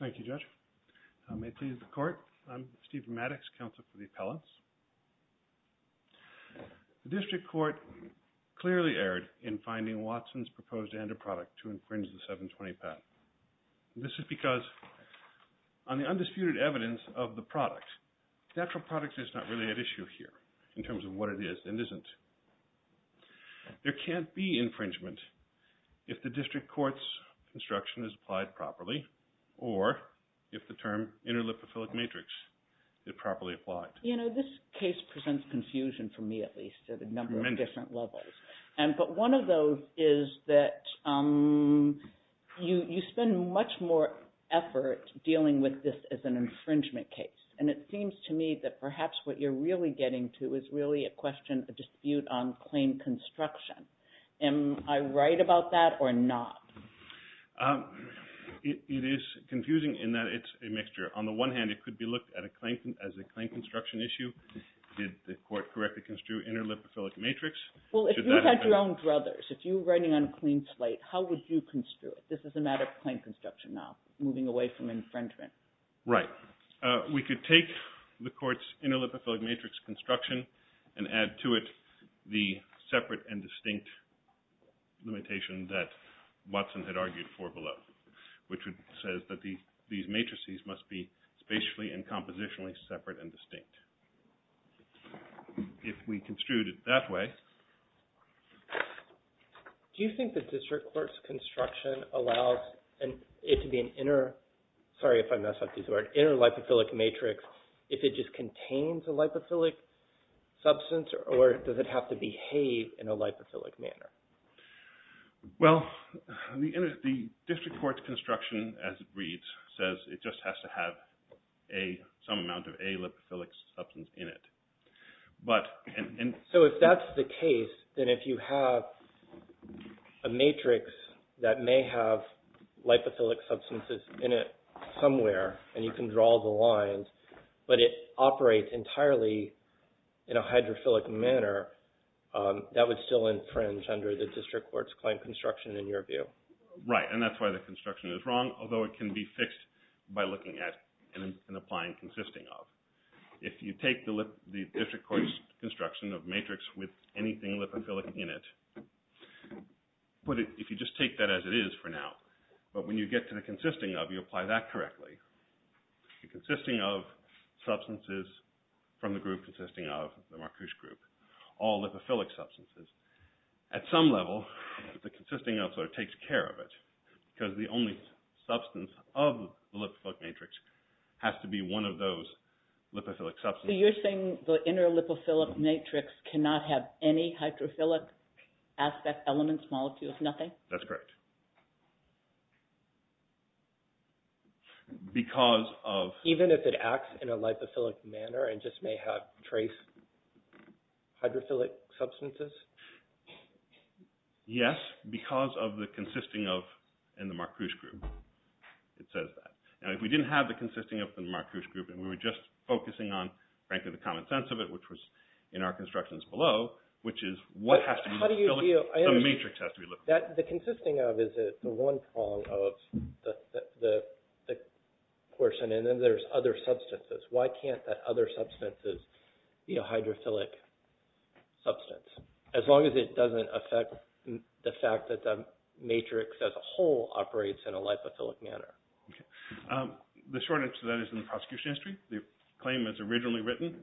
Thank you judge. May it please the court, I'm Steve Maddox, counsel for the appellants. The district court clearly erred in finding Watson's proposed end-of-product to infringe This is because on the undisputed evidence of the product, natural product is not really at issue here in terms of what it is and isn't. There can't be infringement if the district court's instruction is applied properly or if the term inter-lipophilic matrix is properly applied. This case presents confusion for me at least at a number of different levels. But one of those is that you spend much more effort dealing with this as an infringement case. And it seems to me that perhaps what you're really getting to is really a question, a dispute on claim construction. Am I right about that or not? It is confusing in that it's a mixture. On the one hand it could be looked at as a claim construction issue. Did the court correctly construe inter-lipophilic matrix? Well if you had your own druthers, if you were writing on a clean slate, how would you construe it? This is a matter of claim construction now, moving away from infringement. Right. We could take the court's inter-lipophilic matrix construction and add to it the separate and distinct limitation that Watson had argued for below, which says that these matrices must be spatially and compositionally separate and distinct. If we construed it that way. Do you think the district court's construction allows it to be an inter-lipophilic matrix if it just contains a lipophilic substance or does it have to behave in a lipophilic manner? Well, the district court's construction as it reads says it just has to have some amount of a lipophilic substance in it. So if that's the case, then if you have a matrix that may have lipophilic substances in it somewhere and you can draw the lines, but it operates entirely in a hydrophilic manner, that would still infringe under the district court's claim construction in your view. Right. And that's why the construction is wrong, although it can be fixed by looking at and applying consisting of. If you take the district court's construction of matrix with anything lipophilic in it, if you just take that as it is for now, but when you get to the consisting of, you apply that correctly. The consisting of substances from the group consisting of, the Marcuse group, all lipophilic substances. At some level, the consisting of sort of takes care of it because the only substance of the lipophilic matrix has to be one of those lipophilic substances. So you're saying the inter-lipophilic matrix cannot have any hydrophilic aspect elements, molecules, nothing? That's correct. Even if it acts in a lipophilic manner and just may have trace hydrophilic substances? Yes, because of the consisting of in the Marcuse group. It says that. Now, if we didn't have the consisting of the Marcuse group and we were just focusing on, frankly, the common sense of it, which was in our constructions below, which is what has to be lipophilic, the matrix has to be lipophilic. The consisting of is the one prong of the portion, and then there's other substances. Why can't that other substance be a hydrophilic substance, as long as it doesn't affect the fact that the matrix as a whole operates in a lipophilic manner? The short answer to that is in the prosecution history. The claim as originally written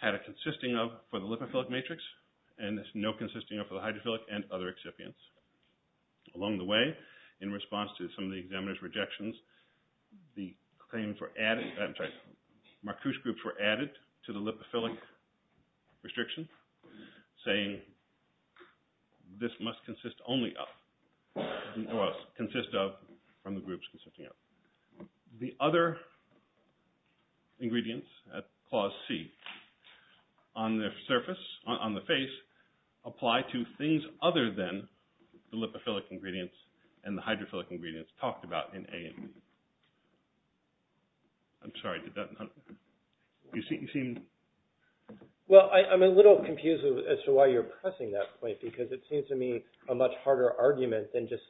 had a consisting of for the lipophilic matrix and no consisting of for the hydrophilic and other excipients. Along the way, in response to some of the examiners' rejections, the claims were added, I'm sorry, from the groups consisting of. The other ingredients at clause C on the surface, on the face, apply to things other than the lipophilic ingredients and the hydrophilic ingredients talked about in A&E. I'm sorry, did that, you seem... Well, I'm a little confused as to why you're pressing that point, because it seems to me a much harder argument than just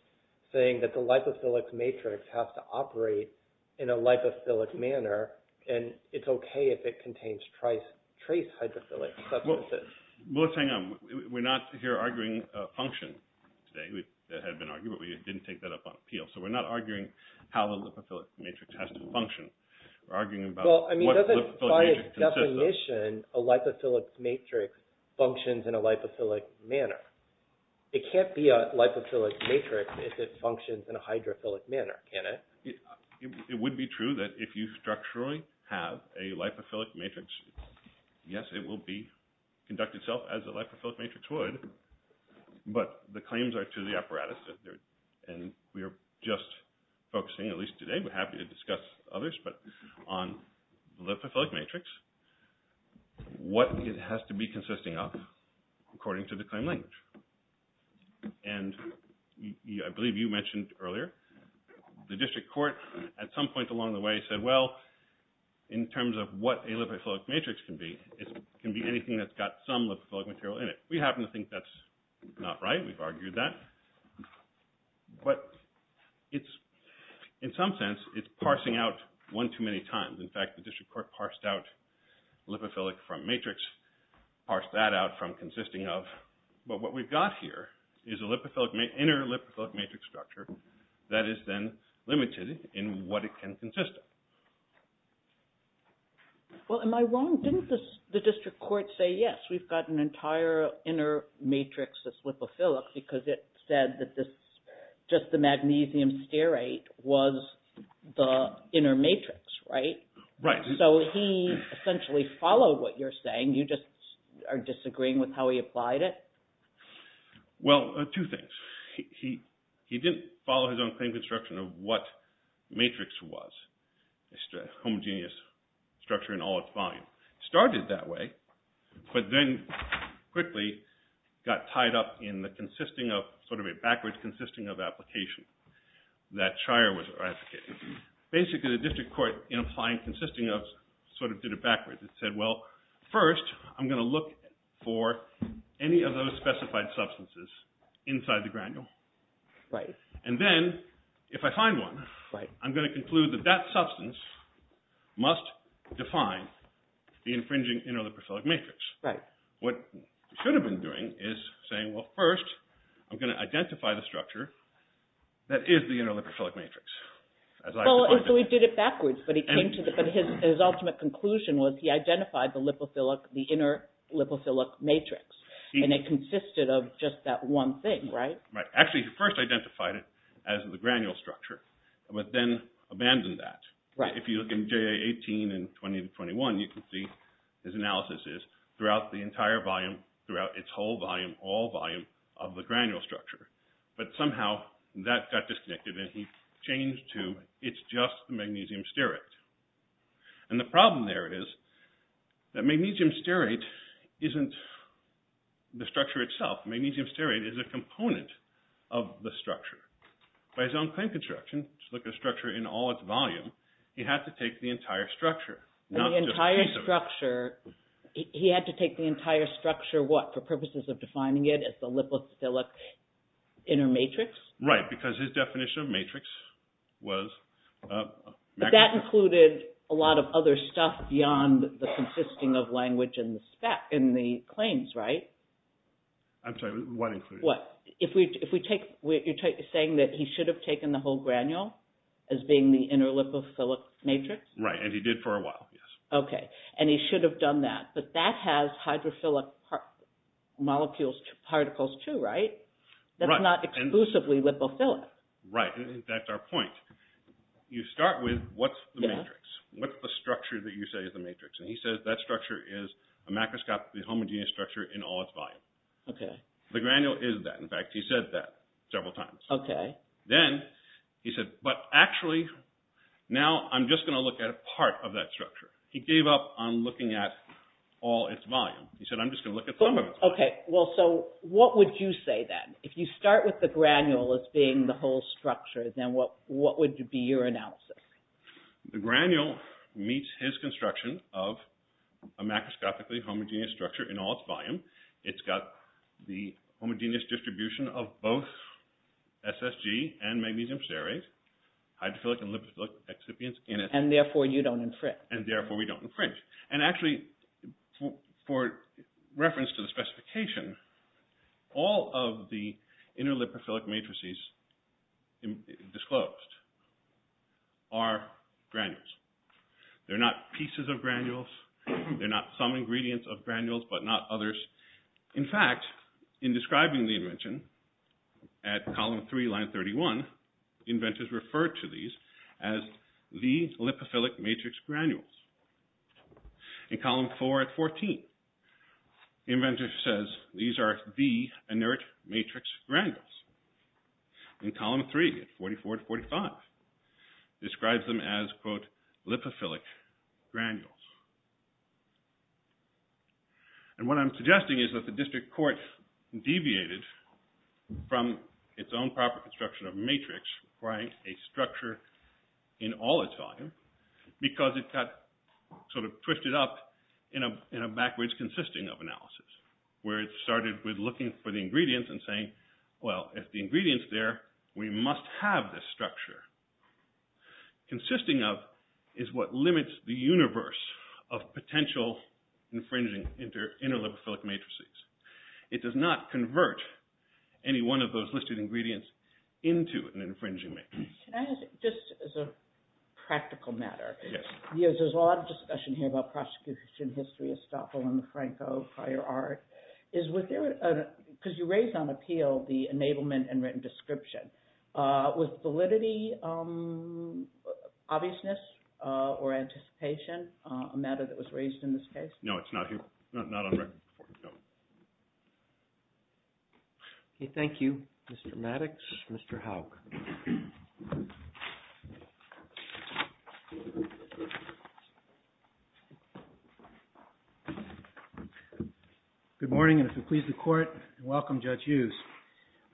saying that the lipophilic matrix has to operate in a lipophilic manner, and it's okay if it contains trace hydrophilic substances. Well, let's hang on. We're not here arguing function today. That had been argued, but we didn't take that up on appeal, so we're not arguing how the lipophilic matrix has to function. Well, I mean, by its definition, a lipophilic matrix functions in a lipophilic manner. It can't be a lipophilic matrix if it functions in a hydrophilic manner, can it? It would be true that if you structurally have a lipophilic matrix, yes, it will conduct itself as a lipophilic matrix would, but the claims are to the apparatus. And we are just focusing, at least today, we're happy to discuss others, but on the lipophilic matrix, what it has to be consisting of according to the claim language. And I believe you mentioned earlier the district court at some point along the way said, well, in terms of what a lipophilic matrix can be, it can be anything that's got some lipophilic material in it. We happen to think that's not right. We've argued that. But in some sense, it's parsing out one too many times. In fact, the district court parsed out lipophilic from matrix, parsed that out from consisting of, but what we've got here is an inner lipophilic matrix structure that is then limited in what it can consist of. Well, am I wrong? Didn't the district court say, yes, we've got an entire inner matrix that's lipophilic because it said that just the magnesium stearate was the inner matrix, right? Right. So he essentially followed what you're saying. You just are disagreeing with how he applied it? Well, two things. He didn't follow his own claim construction of what matrix was. It's a homogeneous structure in all its volume. It started that way, but then quickly got tied up in the consisting of, sort of a backwards consisting of application that Shire was advocating. Basically, the district court, in applying consisting of, sort of did it backwards. It said, well, first, I'm going to look for any of those specified substances inside the granule. Right. And then, if I find one, I'm going to conclude that that substance must define the infringing inner lipophilic matrix. Right. What he should have been doing is saying, well, first, I'm going to identify the structure that is the inner lipophilic matrix. So he did it backwards, but his ultimate conclusion was he identified the inner lipophilic matrix, and it consisted of just that one thing, right? Actually, he first identified it as the granule structure, but then abandoned that. Right. If you look in J.A. 18 and 20 to 21, you can see his analysis is throughout the entire volume, throughout its whole volume, all volume of the granule structure. But somehow, that got disconnected, and he changed to it's just the magnesium stearate. And the problem there is that magnesium stearate isn't the structure itself. Magnesium stearate is a component of the structure. By his own claim construction, to look at a structure in all its volume, he had to take the entire structure, not just a piece of it. And the entire structure, he had to take the entire structure, what, for purposes of defining it as the lipophilic inner matrix? Right, because his definition of matrix was… But that included a lot of other stuff beyond the consisting of language in the claims, right? I'm sorry, what included? You're saying that he should have taken the whole granule as being the inner lipophilic matrix? Right, and he did for a while, yes. Okay, and he should have done that, but that has hydrophilic molecules, particles too, right? Right. That's not exclusively lipophilic. Right, and that's our point. You start with, what's the matrix? What's the structure that you say is the matrix? And he says that structure is a macroscopically homogeneous structure in all its volume. Okay. The granule is that. In fact, he said that several times. Okay. Then he said, but actually, now I'm just going to look at a part of that structure. He gave up on looking at all its volume. He said, I'm just going to look at some of its volume. Okay, well, so what would you say then? If you start with the granule as being the whole structure, then what would be your analysis? The granule meets his construction of a macroscopically homogeneous structure in all its volume. It's got the homogeneous distribution of both SSG and magnesium serrate, hydrophilic and lipophilic excipients in it. And therefore, you don't infringe. And therefore, we don't infringe. And actually, for reference to the specification, all of the interlipophilic matrices disclosed are granules. They're not pieces of granules. They're not some ingredients of granules, but not others. In fact, in describing the invention at Column 3, Line 31, inventors refer to these as the lipophilic matrix granules. In Column 4 at 14, inventors says these are the inert matrix granules. In Column 3 at 44 to 45, describes them as, quote, lipophilic granules. And what I'm suggesting is that the district court deviated from its own proper construction of a matrix requiring a structure in all its volume because it got sort of twisted up in a backwards consisting of analysis, where it started with looking for the ingredients and saying, well, if the ingredient's there, we must have this structure. Consisting of is what limits the universe of potential infringing interlipophilic matrices. It does not convert any one of those listed ingredients into an infringing matrix. Can I ask, just as a practical matter? Yes. There's a lot of discussion here about prosecution history of Stoffel and DeFranco, prior art. Because you raised on appeal the enablement and written description. Was validity, obviousness, or anticipation a matter that was raised in this case? No, it's not here. Not on record. Thank you, Mr. Maddox. Mr. Howe. Good morning, and if it pleases the court, welcome, Judge Hughes.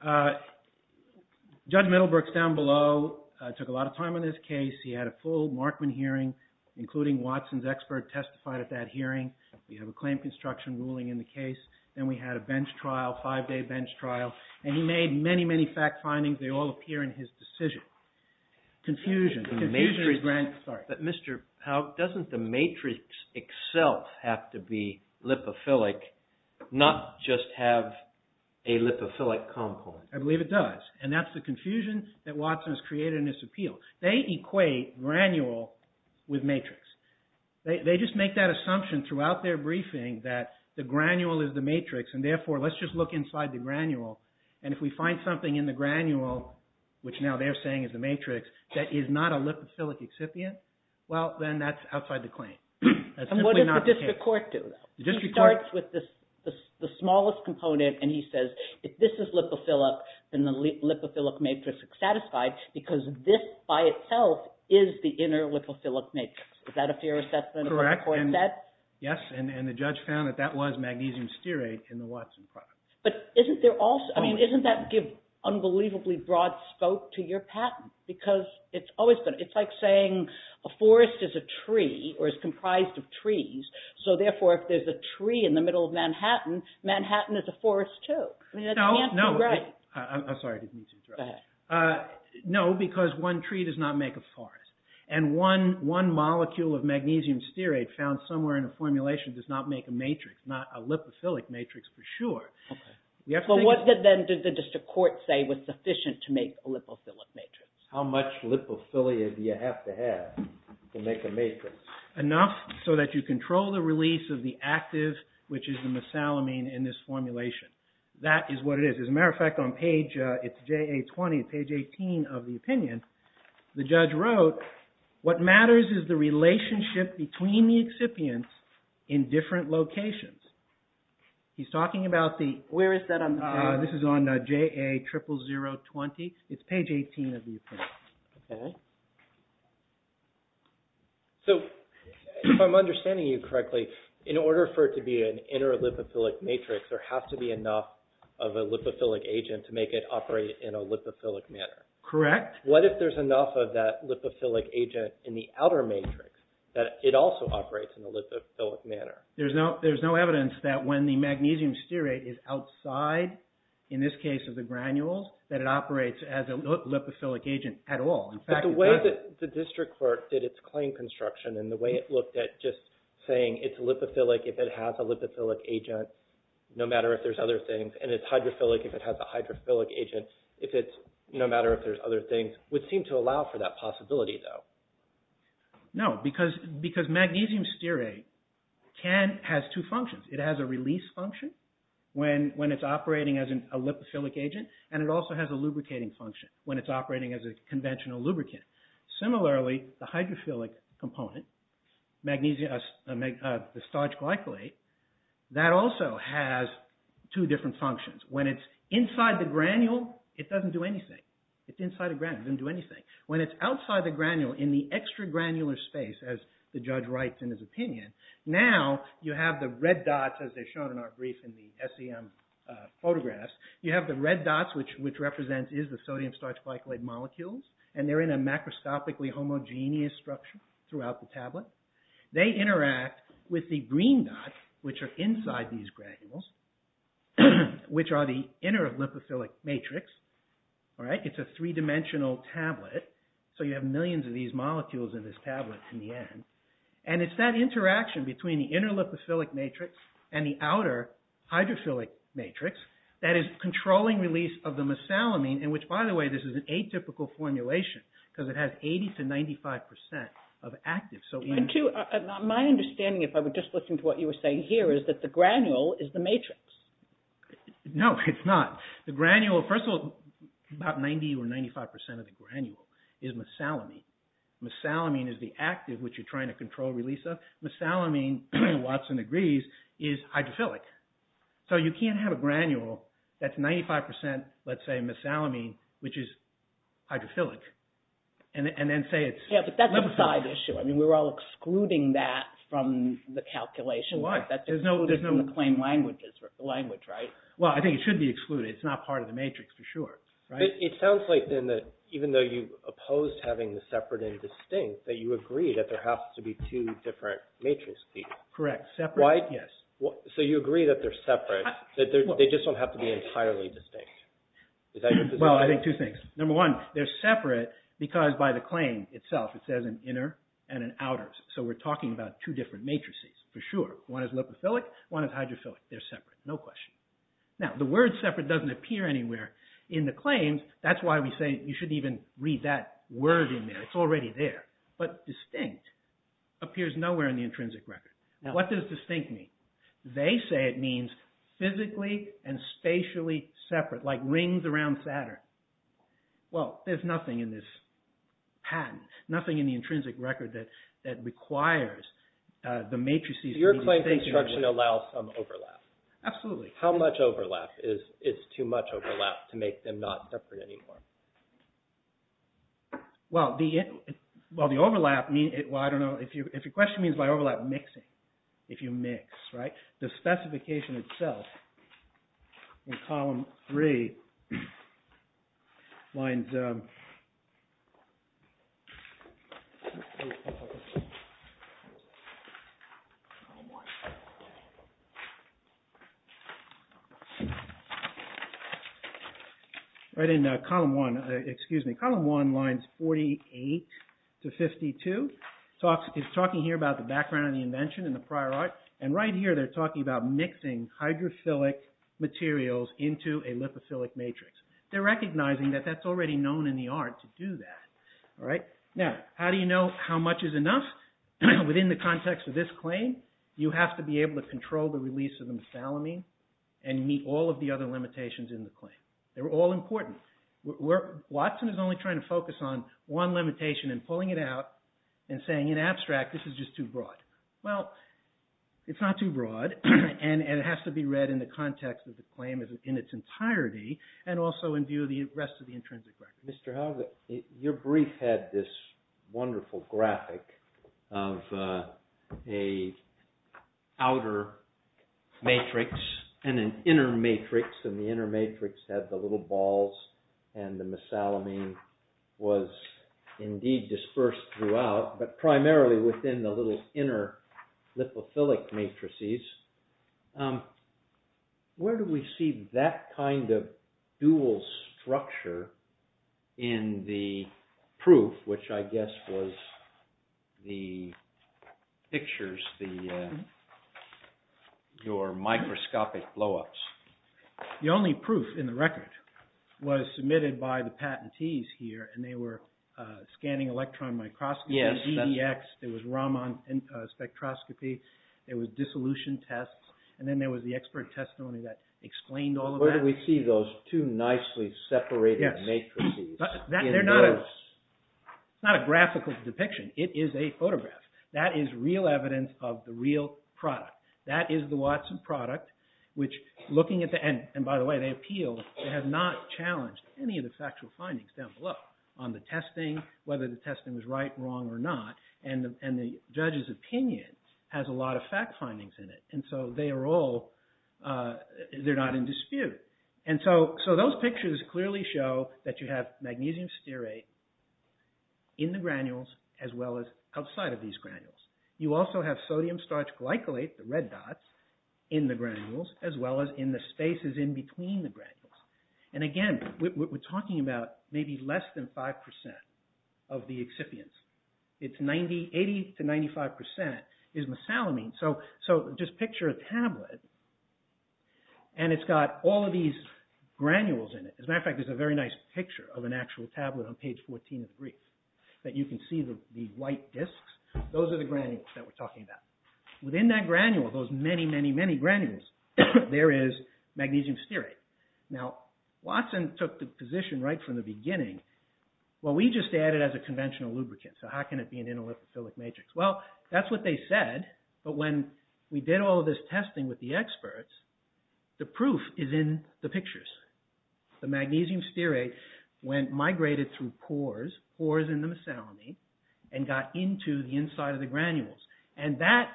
Judge Middlebrooks down below took a lot of time on this case. He had a full Markman hearing, including Watson's expert testified at that hearing. We have a claim construction ruling in the case. Then we had a bench trial, five-day bench trial, and he made many, many fact findings. They all appear in his decision. Confusion. But, Mr. Howe, doesn't the matrix itself have to be lipophilic, not just have a lipophilic compound? I believe it does, and that's the confusion that Watson has created in this appeal. They equate granule with matrix. They just make that assumption throughout their briefing that the granule is the matrix, and therefore, let's just look inside the granule, and if we find something in the granule, which now they're saying is the matrix, that is not a lipophilic excipient, well, then that's outside the claim. And what does the district court do, though? The district court... He starts with the smallest component, and he says, if this is lipophilic, then the lipophilic matrix is satisfied, because this by itself is the inner lipophilic matrix. Is that a fair assessment of what the court said? Yes, and the judge found that that was magnesium stearate in the Watson product. But isn't there also... I mean, doesn't that give unbelievably broad scope to your patent? Because it's always... It's like saying a forest is a tree, or is comprised of trees, so therefore, if there's a tree in the middle of Manhattan, Manhattan is a forest, too. I mean, that can't be right. No, no. Go ahead. No, because one tree does not make a forest, and one molecule of magnesium stearate found somewhere in a formulation does not make a matrix, not a lipophilic matrix, for sure. But what, then, did the district court say was sufficient to make a lipophilic matrix? How much lipophilia do you have to have to make a matrix? Enough so that you control the release of the active, which is the mesalamine, in this formulation. That is what it is. As a matter of fact, on page... It's JA-20, page 18 of the opinion. The judge wrote, what matters is the relationship between the excipients in different locations. He's talking about the... Where is that on the page? This is on JA-00020. It's page 18 of the opinion. Okay. So, if I'm understanding you correctly, in order for it to be an inner lipophilic matrix, there has to be enough of a lipophilic agent to make it operate in a lipophilic manner. Correct. What if there's enough of that lipophilic agent in the outer matrix that it also operates in a lipophilic manner? There's no evidence that when the magnesium stearate is outside, in this case of the granules, that it operates as a lipophilic agent at all. But the way that the district court did its claim construction and the way it looked at just saying it's lipophilic if it has a lipophilic agent, no matter if there's other things, and it's hydrophilic if it has a hydrophilic agent, no matter if there's other things, would seem to allow for that possibility though. No, because magnesium stearate has two functions. It has a release function when it's operating as a lipophilic agent and it also has a lubricating function when it's operating as a conventional lubricant. Similarly, the hydrophilic component, the starch glycolate, that also has two different functions. When it's inside the granule, it doesn't do anything. It's inside a granule, it doesn't do anything. When it's outside the granule in the extra granular space, as the judge writes in his opinion, now you have the red dots, as they're shown in our brief in the SEM photographs, you have the red dots, which represents the sodium starch glycolate molecules, and they're in a macroscopically homogeneous structure throughout the tablet. They interact with the green dots, which are inside these granules, which are the inner lipophilic matrix. It's a three-dimensional tablet, so you have millions of these molecules in this tablet in the end. And it's that interaction between the inner lipophilic matrix and the outer hydrophilic matrix that is controlling release of the mesalamine, in which, by the way, this is an atypical formulation, because it has 80 to 95 percent of actives. My understanding, if I would just listen to what you were saying here, is that the granule is the matrix. No, it's not. The granule, first of all, about 90 or 95 percent of the granule is mesalamine. Mesalamine is the active, which you're trying to control release of. Mesalamine, Watson agrees, is hydrophilic. So you can't have a granule that's 95 percent, let's say, mesalamine, which is hydrophilic, and then say it's lipophilic. Yeah, but that's a side issue. I mean, we're all excluding that from the calculation. Why? That's excluded from the claim language, right? Well, I think it should be excluded. It's not part of the matrix, for sure. It sounds like, then, that even though you oppose having the separate and distinct, that you agree that there has to be two different matrices. Correct. Separate? Yes. So you agree that they're separate, that they just don't have to be entirely distinct. Is that your position? Well, I think two things. Number one, they're separate because, by the claim itself, it says an inner and an outer. So we're talking about two different matrices, for sure. One is lipophilic, one is hydrophilic. They're separate, no question. Now, the word separate doesn't appear anywhere in the claims. That's why we say you shouldn't even read that word in there. It's already there. But distinct appears nowhere in the intrinsic record. What does distinct mean? They say it means physically and spatially separate, like rings around Saturn. Well, there's nothing in this patent, nothing in the intrinsic record that requires the matrices being distinct. So your claim construction allows some overlap. Absolutely. How much overlap? Is too much overlap to make them not separate anymore? Well, the overlap, I don't know, if your question means by overlap, mixing. If you mix, right? The specification itself in column three lines... Right in column one, excuse me, column one lines 48 to 52 is talking here about the background of the invention and the prior art, and right here they're talking about mixing hydrophilic materials into a lipophilic matrix. They're recognizing that that's already known in the art to do that. Now, how do you know how much is enough? Within the context of this claim, you have to be able to control the release of the methylamine and meet all of the other limitations in the claim. They're all important. Watson is only trying to focus on one limitation and pulling it out and saying in abstract, this is just too broad. Well, it's not too broad, and it has to be read in the context of the claim in its entirety and also in view of the rest of the intrinsic record. Mr. Howlett, your brief had this wonderful graphic of an outer matrix and an inner matrix, and the inner matrix had the little balls and the mesalamine was indeed dispersed throughout, but primarily within the little inner lipophilic matrices. Where do we see that kind of dual structure in the proof, which I guess was the pictures, your microscopic blow-ups? The only proof in the record was submitted by the patentees here, and they were scanning electron microscopy, EDX, there was Raman spectroscopy, there was dissolution tests, and then there was the expert testimony that explained all of that. Where do we see those two nicely separated matrices? It's not a graphical depiction. It is a photograph. That is real evidence of the real product. That is the Watson product, and by the way, they appealed, they have not challenged any of the factual findings down below on the testing, whether the testing was right, wrong, or not, and the judge's opinion has a lot of fact findings in it, and so they are all, they're not in dispute. And so those pictures clearly show that you have magnesium stearate in the granules as well as outside of these granules. You also have sodium starch glycolate, the red dots, in the granules as well as in the spaces in between the granules. And again, we're talking about maybe less than 5% of the excipients. It's 80 to 95% is mesalamine, so just picture a tablet, and it's got all of these granules in it. As a matter of fact, there's a very nice picture of an actual tablet on page 14 of the brief that you can see the white disks. Those are the granules that we're talking about. Within that granule, those many, many, many granules, there is magnesium stearate. Now, Watson took the position right from the beginning, well, we just add it as a conventional lubricant, so how can it be an inoliphophilic matrix? Well, that's what they said, but when we did all of this testing with the experts, the proof is in the pictures. The magnesium stearate went, migrated through pores, pores in the mesalamine, and got into the inside of the granules, and that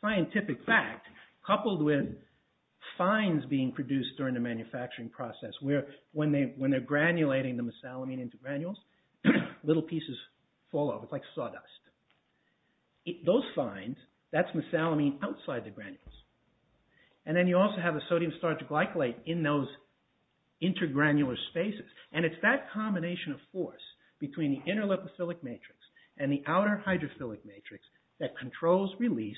scientific fact, coupled with fines being produced during the manufacturing process, where when they're granulating the mesalamine into granules, little pieces fall off. It's like sawdust. Those fines, that's mesalamine outside the granules, and then you also have the sodium starch glycolate in those intergranular spaces, and it's that combination of force between the inoliphophilic matrix and the outer hydrophilic matrix that controls release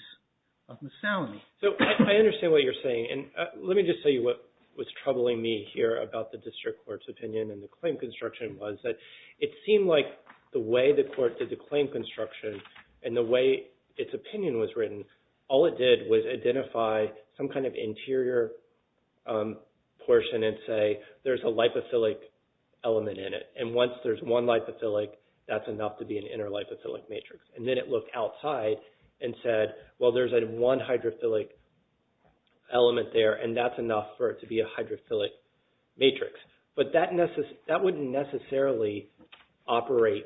of mesalamine. So, I understand what you're saying, and let me just tell you what was troubling me here about the district court's opinion and the claim construction was that it seemed like the way the court did the claim construction and the way its opinion was written, all it did was identify some kind of interior portion and say there's a lipophilic element in it, and once there's one lipophilic, that's enough to be an interlipophilic matrix. And then it looked outside and said, well, there's that one hydrophilic element there, and that's enough for it to be a hydrophilic matrix. But that wouldn't necessarily operate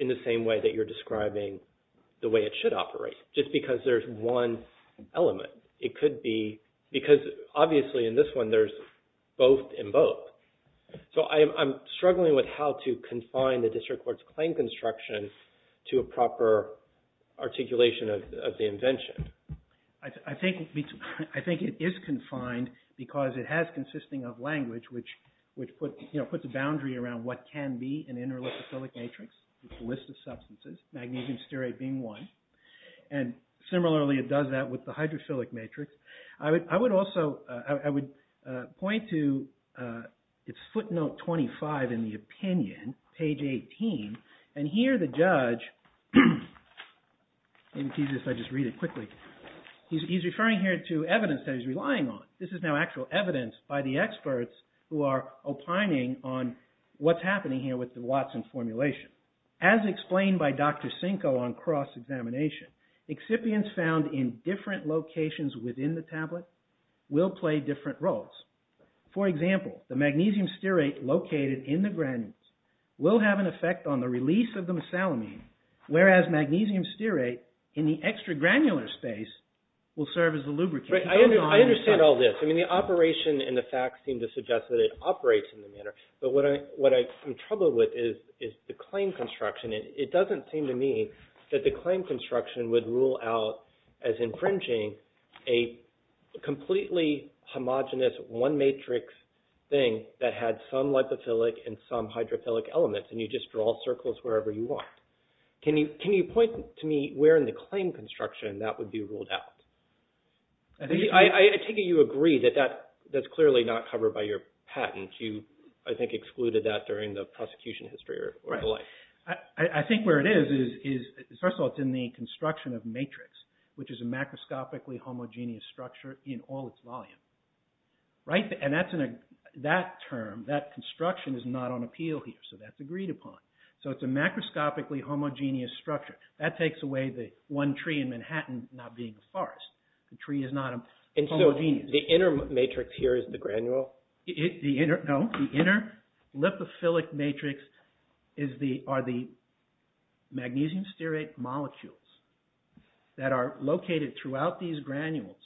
in the same way that you're describing the way it should operate, just because there's one element. It could be, because obviously in this one, there's both and both. So, I'm struggling with how to confine the district court's claim construction to a proper articulation of the invention. I think it is confined because it has consisting of language which puts a boundary around what can be an interlipophilic matrix with a list of substances, magnesium stearate being one. And similarly, it does that with the hydrophilic matrix. I would also point to footnote 25 in the opinion, page 18, and here the judge, if I just read it quickly, he's referring here to evidence that he's relying on. This is now actual evidence by the experts who are opining on what's happening here with the Watson formulation. As explained by Dr. Cinco on cross-examination, excipients found in different locations within the tablet will play different roles. For example, the magnesium stearate located in the granules will have an effect on the release of the mesalamine, whereas magnesium stearate in the extra granular space will serve as the lubricant. I understand all this. The operation and the facts seem to suggest that it operates in the manner, but what I'm troubled with is the claim construction. It doesn't seem to me that the claim construction would rule out as infringing a completely homogenous one matrix thing that had some lipophilic and some hydrophilic elements, and you just draw circles wherever you want. Can you point to me where in the claim construction that would be ruled out? I take it you agree that that's clearly not covered by your patent. You, I think, excluded that during the prosecution history or the like. I think where it is is, first of all, it's in the construction of matrix, which is a macroscopically homogenous structure in all its volume. That term, that construction is not on appeal here, so that's agreed upon. It's a macroscopically homogenous structure. That takes away the one tree in Manhattan not being a forest. The tree is not homogenous. The inner matrix here is the granule? No, the inner lipophilic matrix are the magnesium stearate molecules that are located throughout these granules,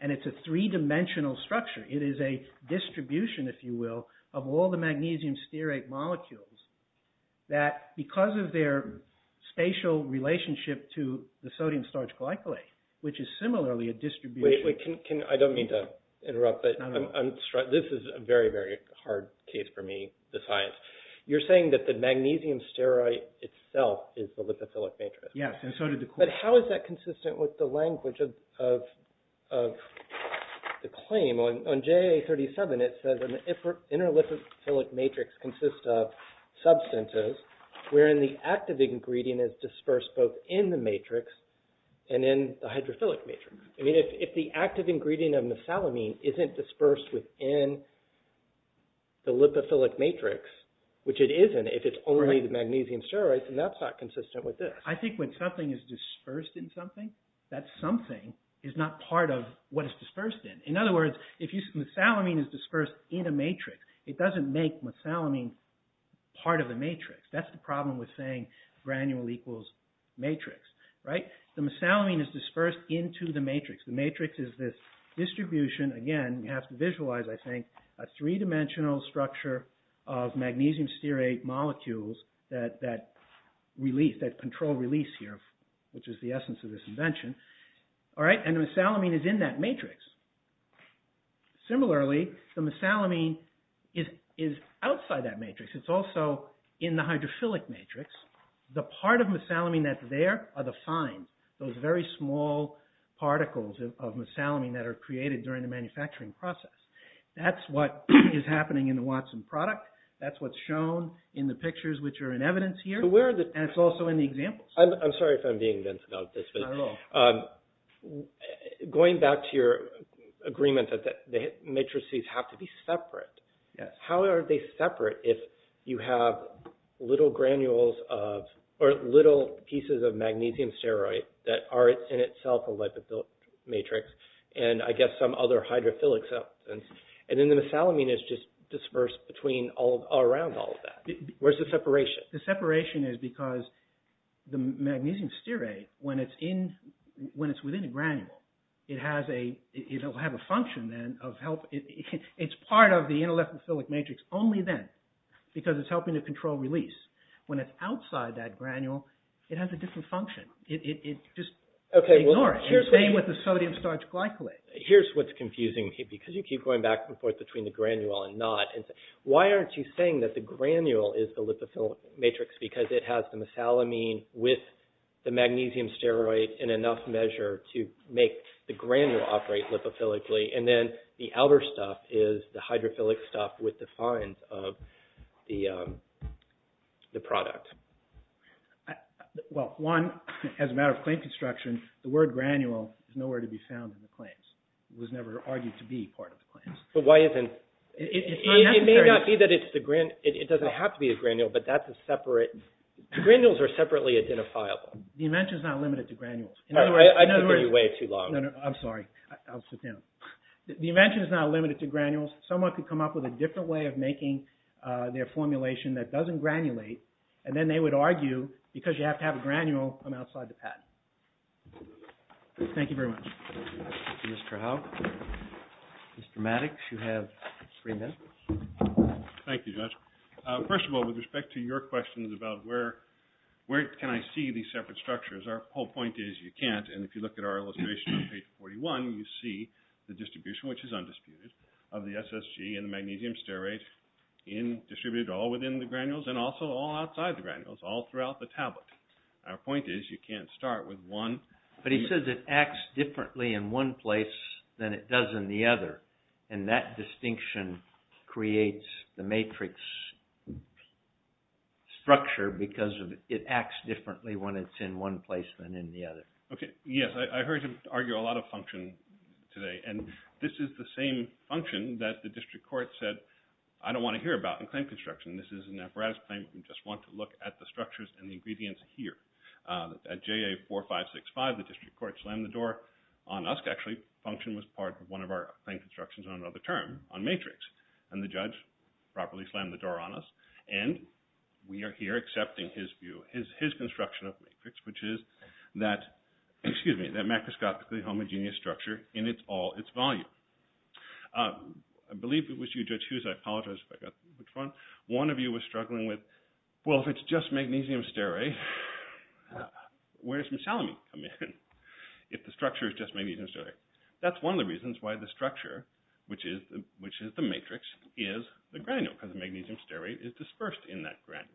and it's a three-dimensional structure. It is a distribution, if you will, of all the magnesium stearate molecules that, because of their spatial relationship to the sodium starch glycolate, which is similarly a distribution... Wait, wait, I don't mean to interrupt, but this is a very, very hard case for me, the science. You're saying that the magnesium stearate itself is the lipophilic matrix. Yes, and so did the... But how is that consistent with the language of the claim? On JA37, it says, an inner lipophilic matrix consists of substances wherein the active ingredient is dispersed both in the matrix and in the hydrophilic matrix. I mean, if the active ingredient of mesalamine isn't dispersed within the lipophilic matrix, which it isn't if it's only the magnesium stearate, then that's not consistent with this. I think when something is dispersed in something, that something is not part of what it's dispersed in. In other words, if mesalamine is dispersed in a matrix, it doesn't make mesalamine part of the matrix. That's the problem with saying granule equals matrix. The mesalamine is dispersed into the matrix. The matrix is this distribution. Again, you have to visualize, I think, a three-dimensional structure of magnesium stearate molecules that control release here, which is the essence of this invention. And the mesalamine is in that matrix. Similarly, the mesalamine is outside that matrix. It's also in the hydrophilic matrix. The part of mesalamine that's there are the fines, those very small particles of mesalamine that are created during the manufacturing process. That's what is happening in the Watson product. That's what's shown in the pictures, which are in evidence here. And it's also in the examples. I'm sorry if I'm being dense about this. Not at all. Going back to your agreement that the matrices have to be separate, how are they separate if you have little granules of, or little pieces of magnesium stearate that are in itself a lipid matrix, and I guess some other hydrophilic substance, and then the mesalamine is just dispersed around all of that. Where's the separation? The separation is because the magnesium stearate, when it's within a granule, it'll have a function then of help. It's part of the inter-lipophilic matrix only then, because it's helping to control release. When it's outside that granule, it has a different function. Just ignore it. Stay with the sodium starch glycolate. Here's what's confusing me, because you keep going back and forth between the granule and not. Why aren't you saying that the granule is the lipophilic matrix? Because it has the mesalamine with the magnesium stearate in enough measure to make the granule operate lipophilically, and then the outer stuff is the hydrophilic stuff with the fines of the product. Well, one, as a matter of claim construction, the word granule is nowhere to be found in the claims. It was never argued to be part of the claims. But why isn't... It's not necessary. It may not be that it's the granule. It doesn't have to be a granule, but that's a separate... Granules are separately identifiable. The invention is not limited to granules. In other words... I've been giving you way too long. No, no, I'm sorry. I'll sit down. The invention is not limited to granules. Someone could come up with a different way of making their formulation that doesn't granulate, and then they would argue, because you have to have a granule on the outside of the patent. Thank you very much. Mr. Howe. Mr. Maddox, you have three minutes. Thank you, Judge. First of all, with respect to your questions about where can I see these separate structures, our whole point is you can't, and if you look at our illustration on page 41, you see the distribution, which is undisputed, of the SSG and the magnesium stearate distributed all within the granules and also all outside the granules, all throughout the tablet. Our point is you can't start with one... But he says it acts differently in one place than it does in the other, and that distinction creates the matrix structure because it acts differently when it's in one place than in the other. Okay, yes. I heard you argue a lot of function today, and this is the same function that the district court said, I don't want to hear about in claim construction. This is an apparatus claim. We just want to look at the structures and the ingredients here. At JA4565, the district court slammed the door on us. Actually, function was part of one of our claim constructions on another term, on matrix, and the judge properly slammed the door on us, and we are here accepting his view, his construction of matrix, which is that macroscopically homogeneous structure in all its volume. I believe it was you, Judge Hughes. I apologize if I got which one. One of you was struggling with, well, if it's just magnesium stearate, where does misalamine come in if the structure is just magnesium stearate? That's one of the reasons why the structure, which is the matrix, is the granule, because magnesium stearate is dispersed in that granule.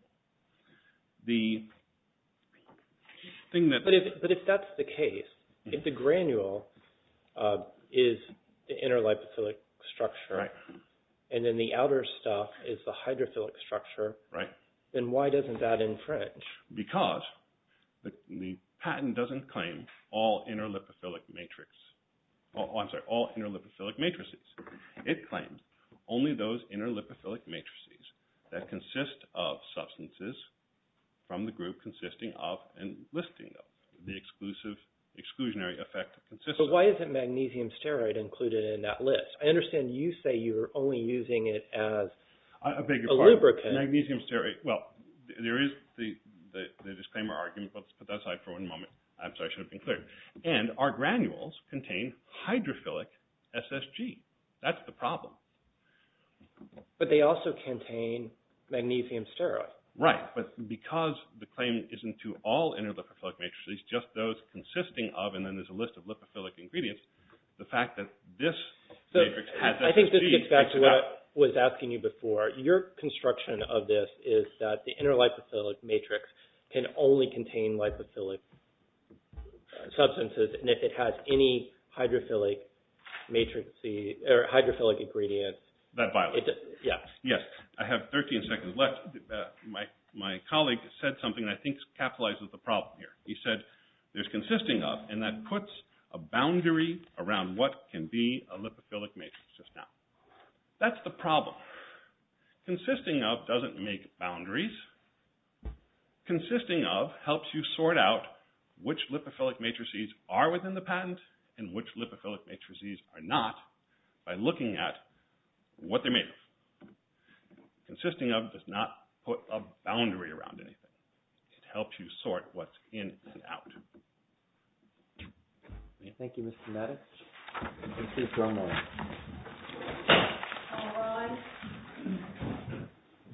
But if that's the case, if the granule is the inter-lipophilic structure, and then the outer stuff is the hydrophilic structure, then why doesn't that infringe? Because the patent doesn't claim all inter-lipophilic matrix. I'm sorry, all inter-lipophilic matrices. It claims only those inter-lipophilic matrices that consist of substances from the group consisting of and listing them, the exclusionary effect of consistency. But why isn't magnesium stearate included in that list? I understand you say you're only using it as a lubricant. I beg your pardon. Magnesium stearate, well, there is the disclaimer argument, but let's put that aside for one moment. I'm sorry, I should have been clear. And our granules contain hydrophilic SSG. That's the problem. But they also contain magnesium stearate. Right, but because the claim isn't to all inter-lipophilic matrices, just those consisting of, and then there's a list of lipophilic ingredients, the fact that this matrix has SSG... I think this gets back to what I was asking you before. Your construction of this is that the inter-lipophilic matrix can only contain lipophilic substances, and if it has any hydrophilic matrix, or hydrophilic ingredients... That violates it. Yeah. Yes, I have 13 seconds left. My colleague said something that I think capitalizes the problem here. He said there's consisting of, and that puts a boundary around what can be a lipophilic matrix. That's the problem. Consisting of doesn't make boundaries. Consisting of helps you sort out which lipophilic matrices are within the patent and which lipophilic matrices are not by looking at what they're made of. Consisting of does not put a boundary around anything. It helps you sort what's in and out. Thank you, Mr. Maddox. This is Ron. Hello, Ron.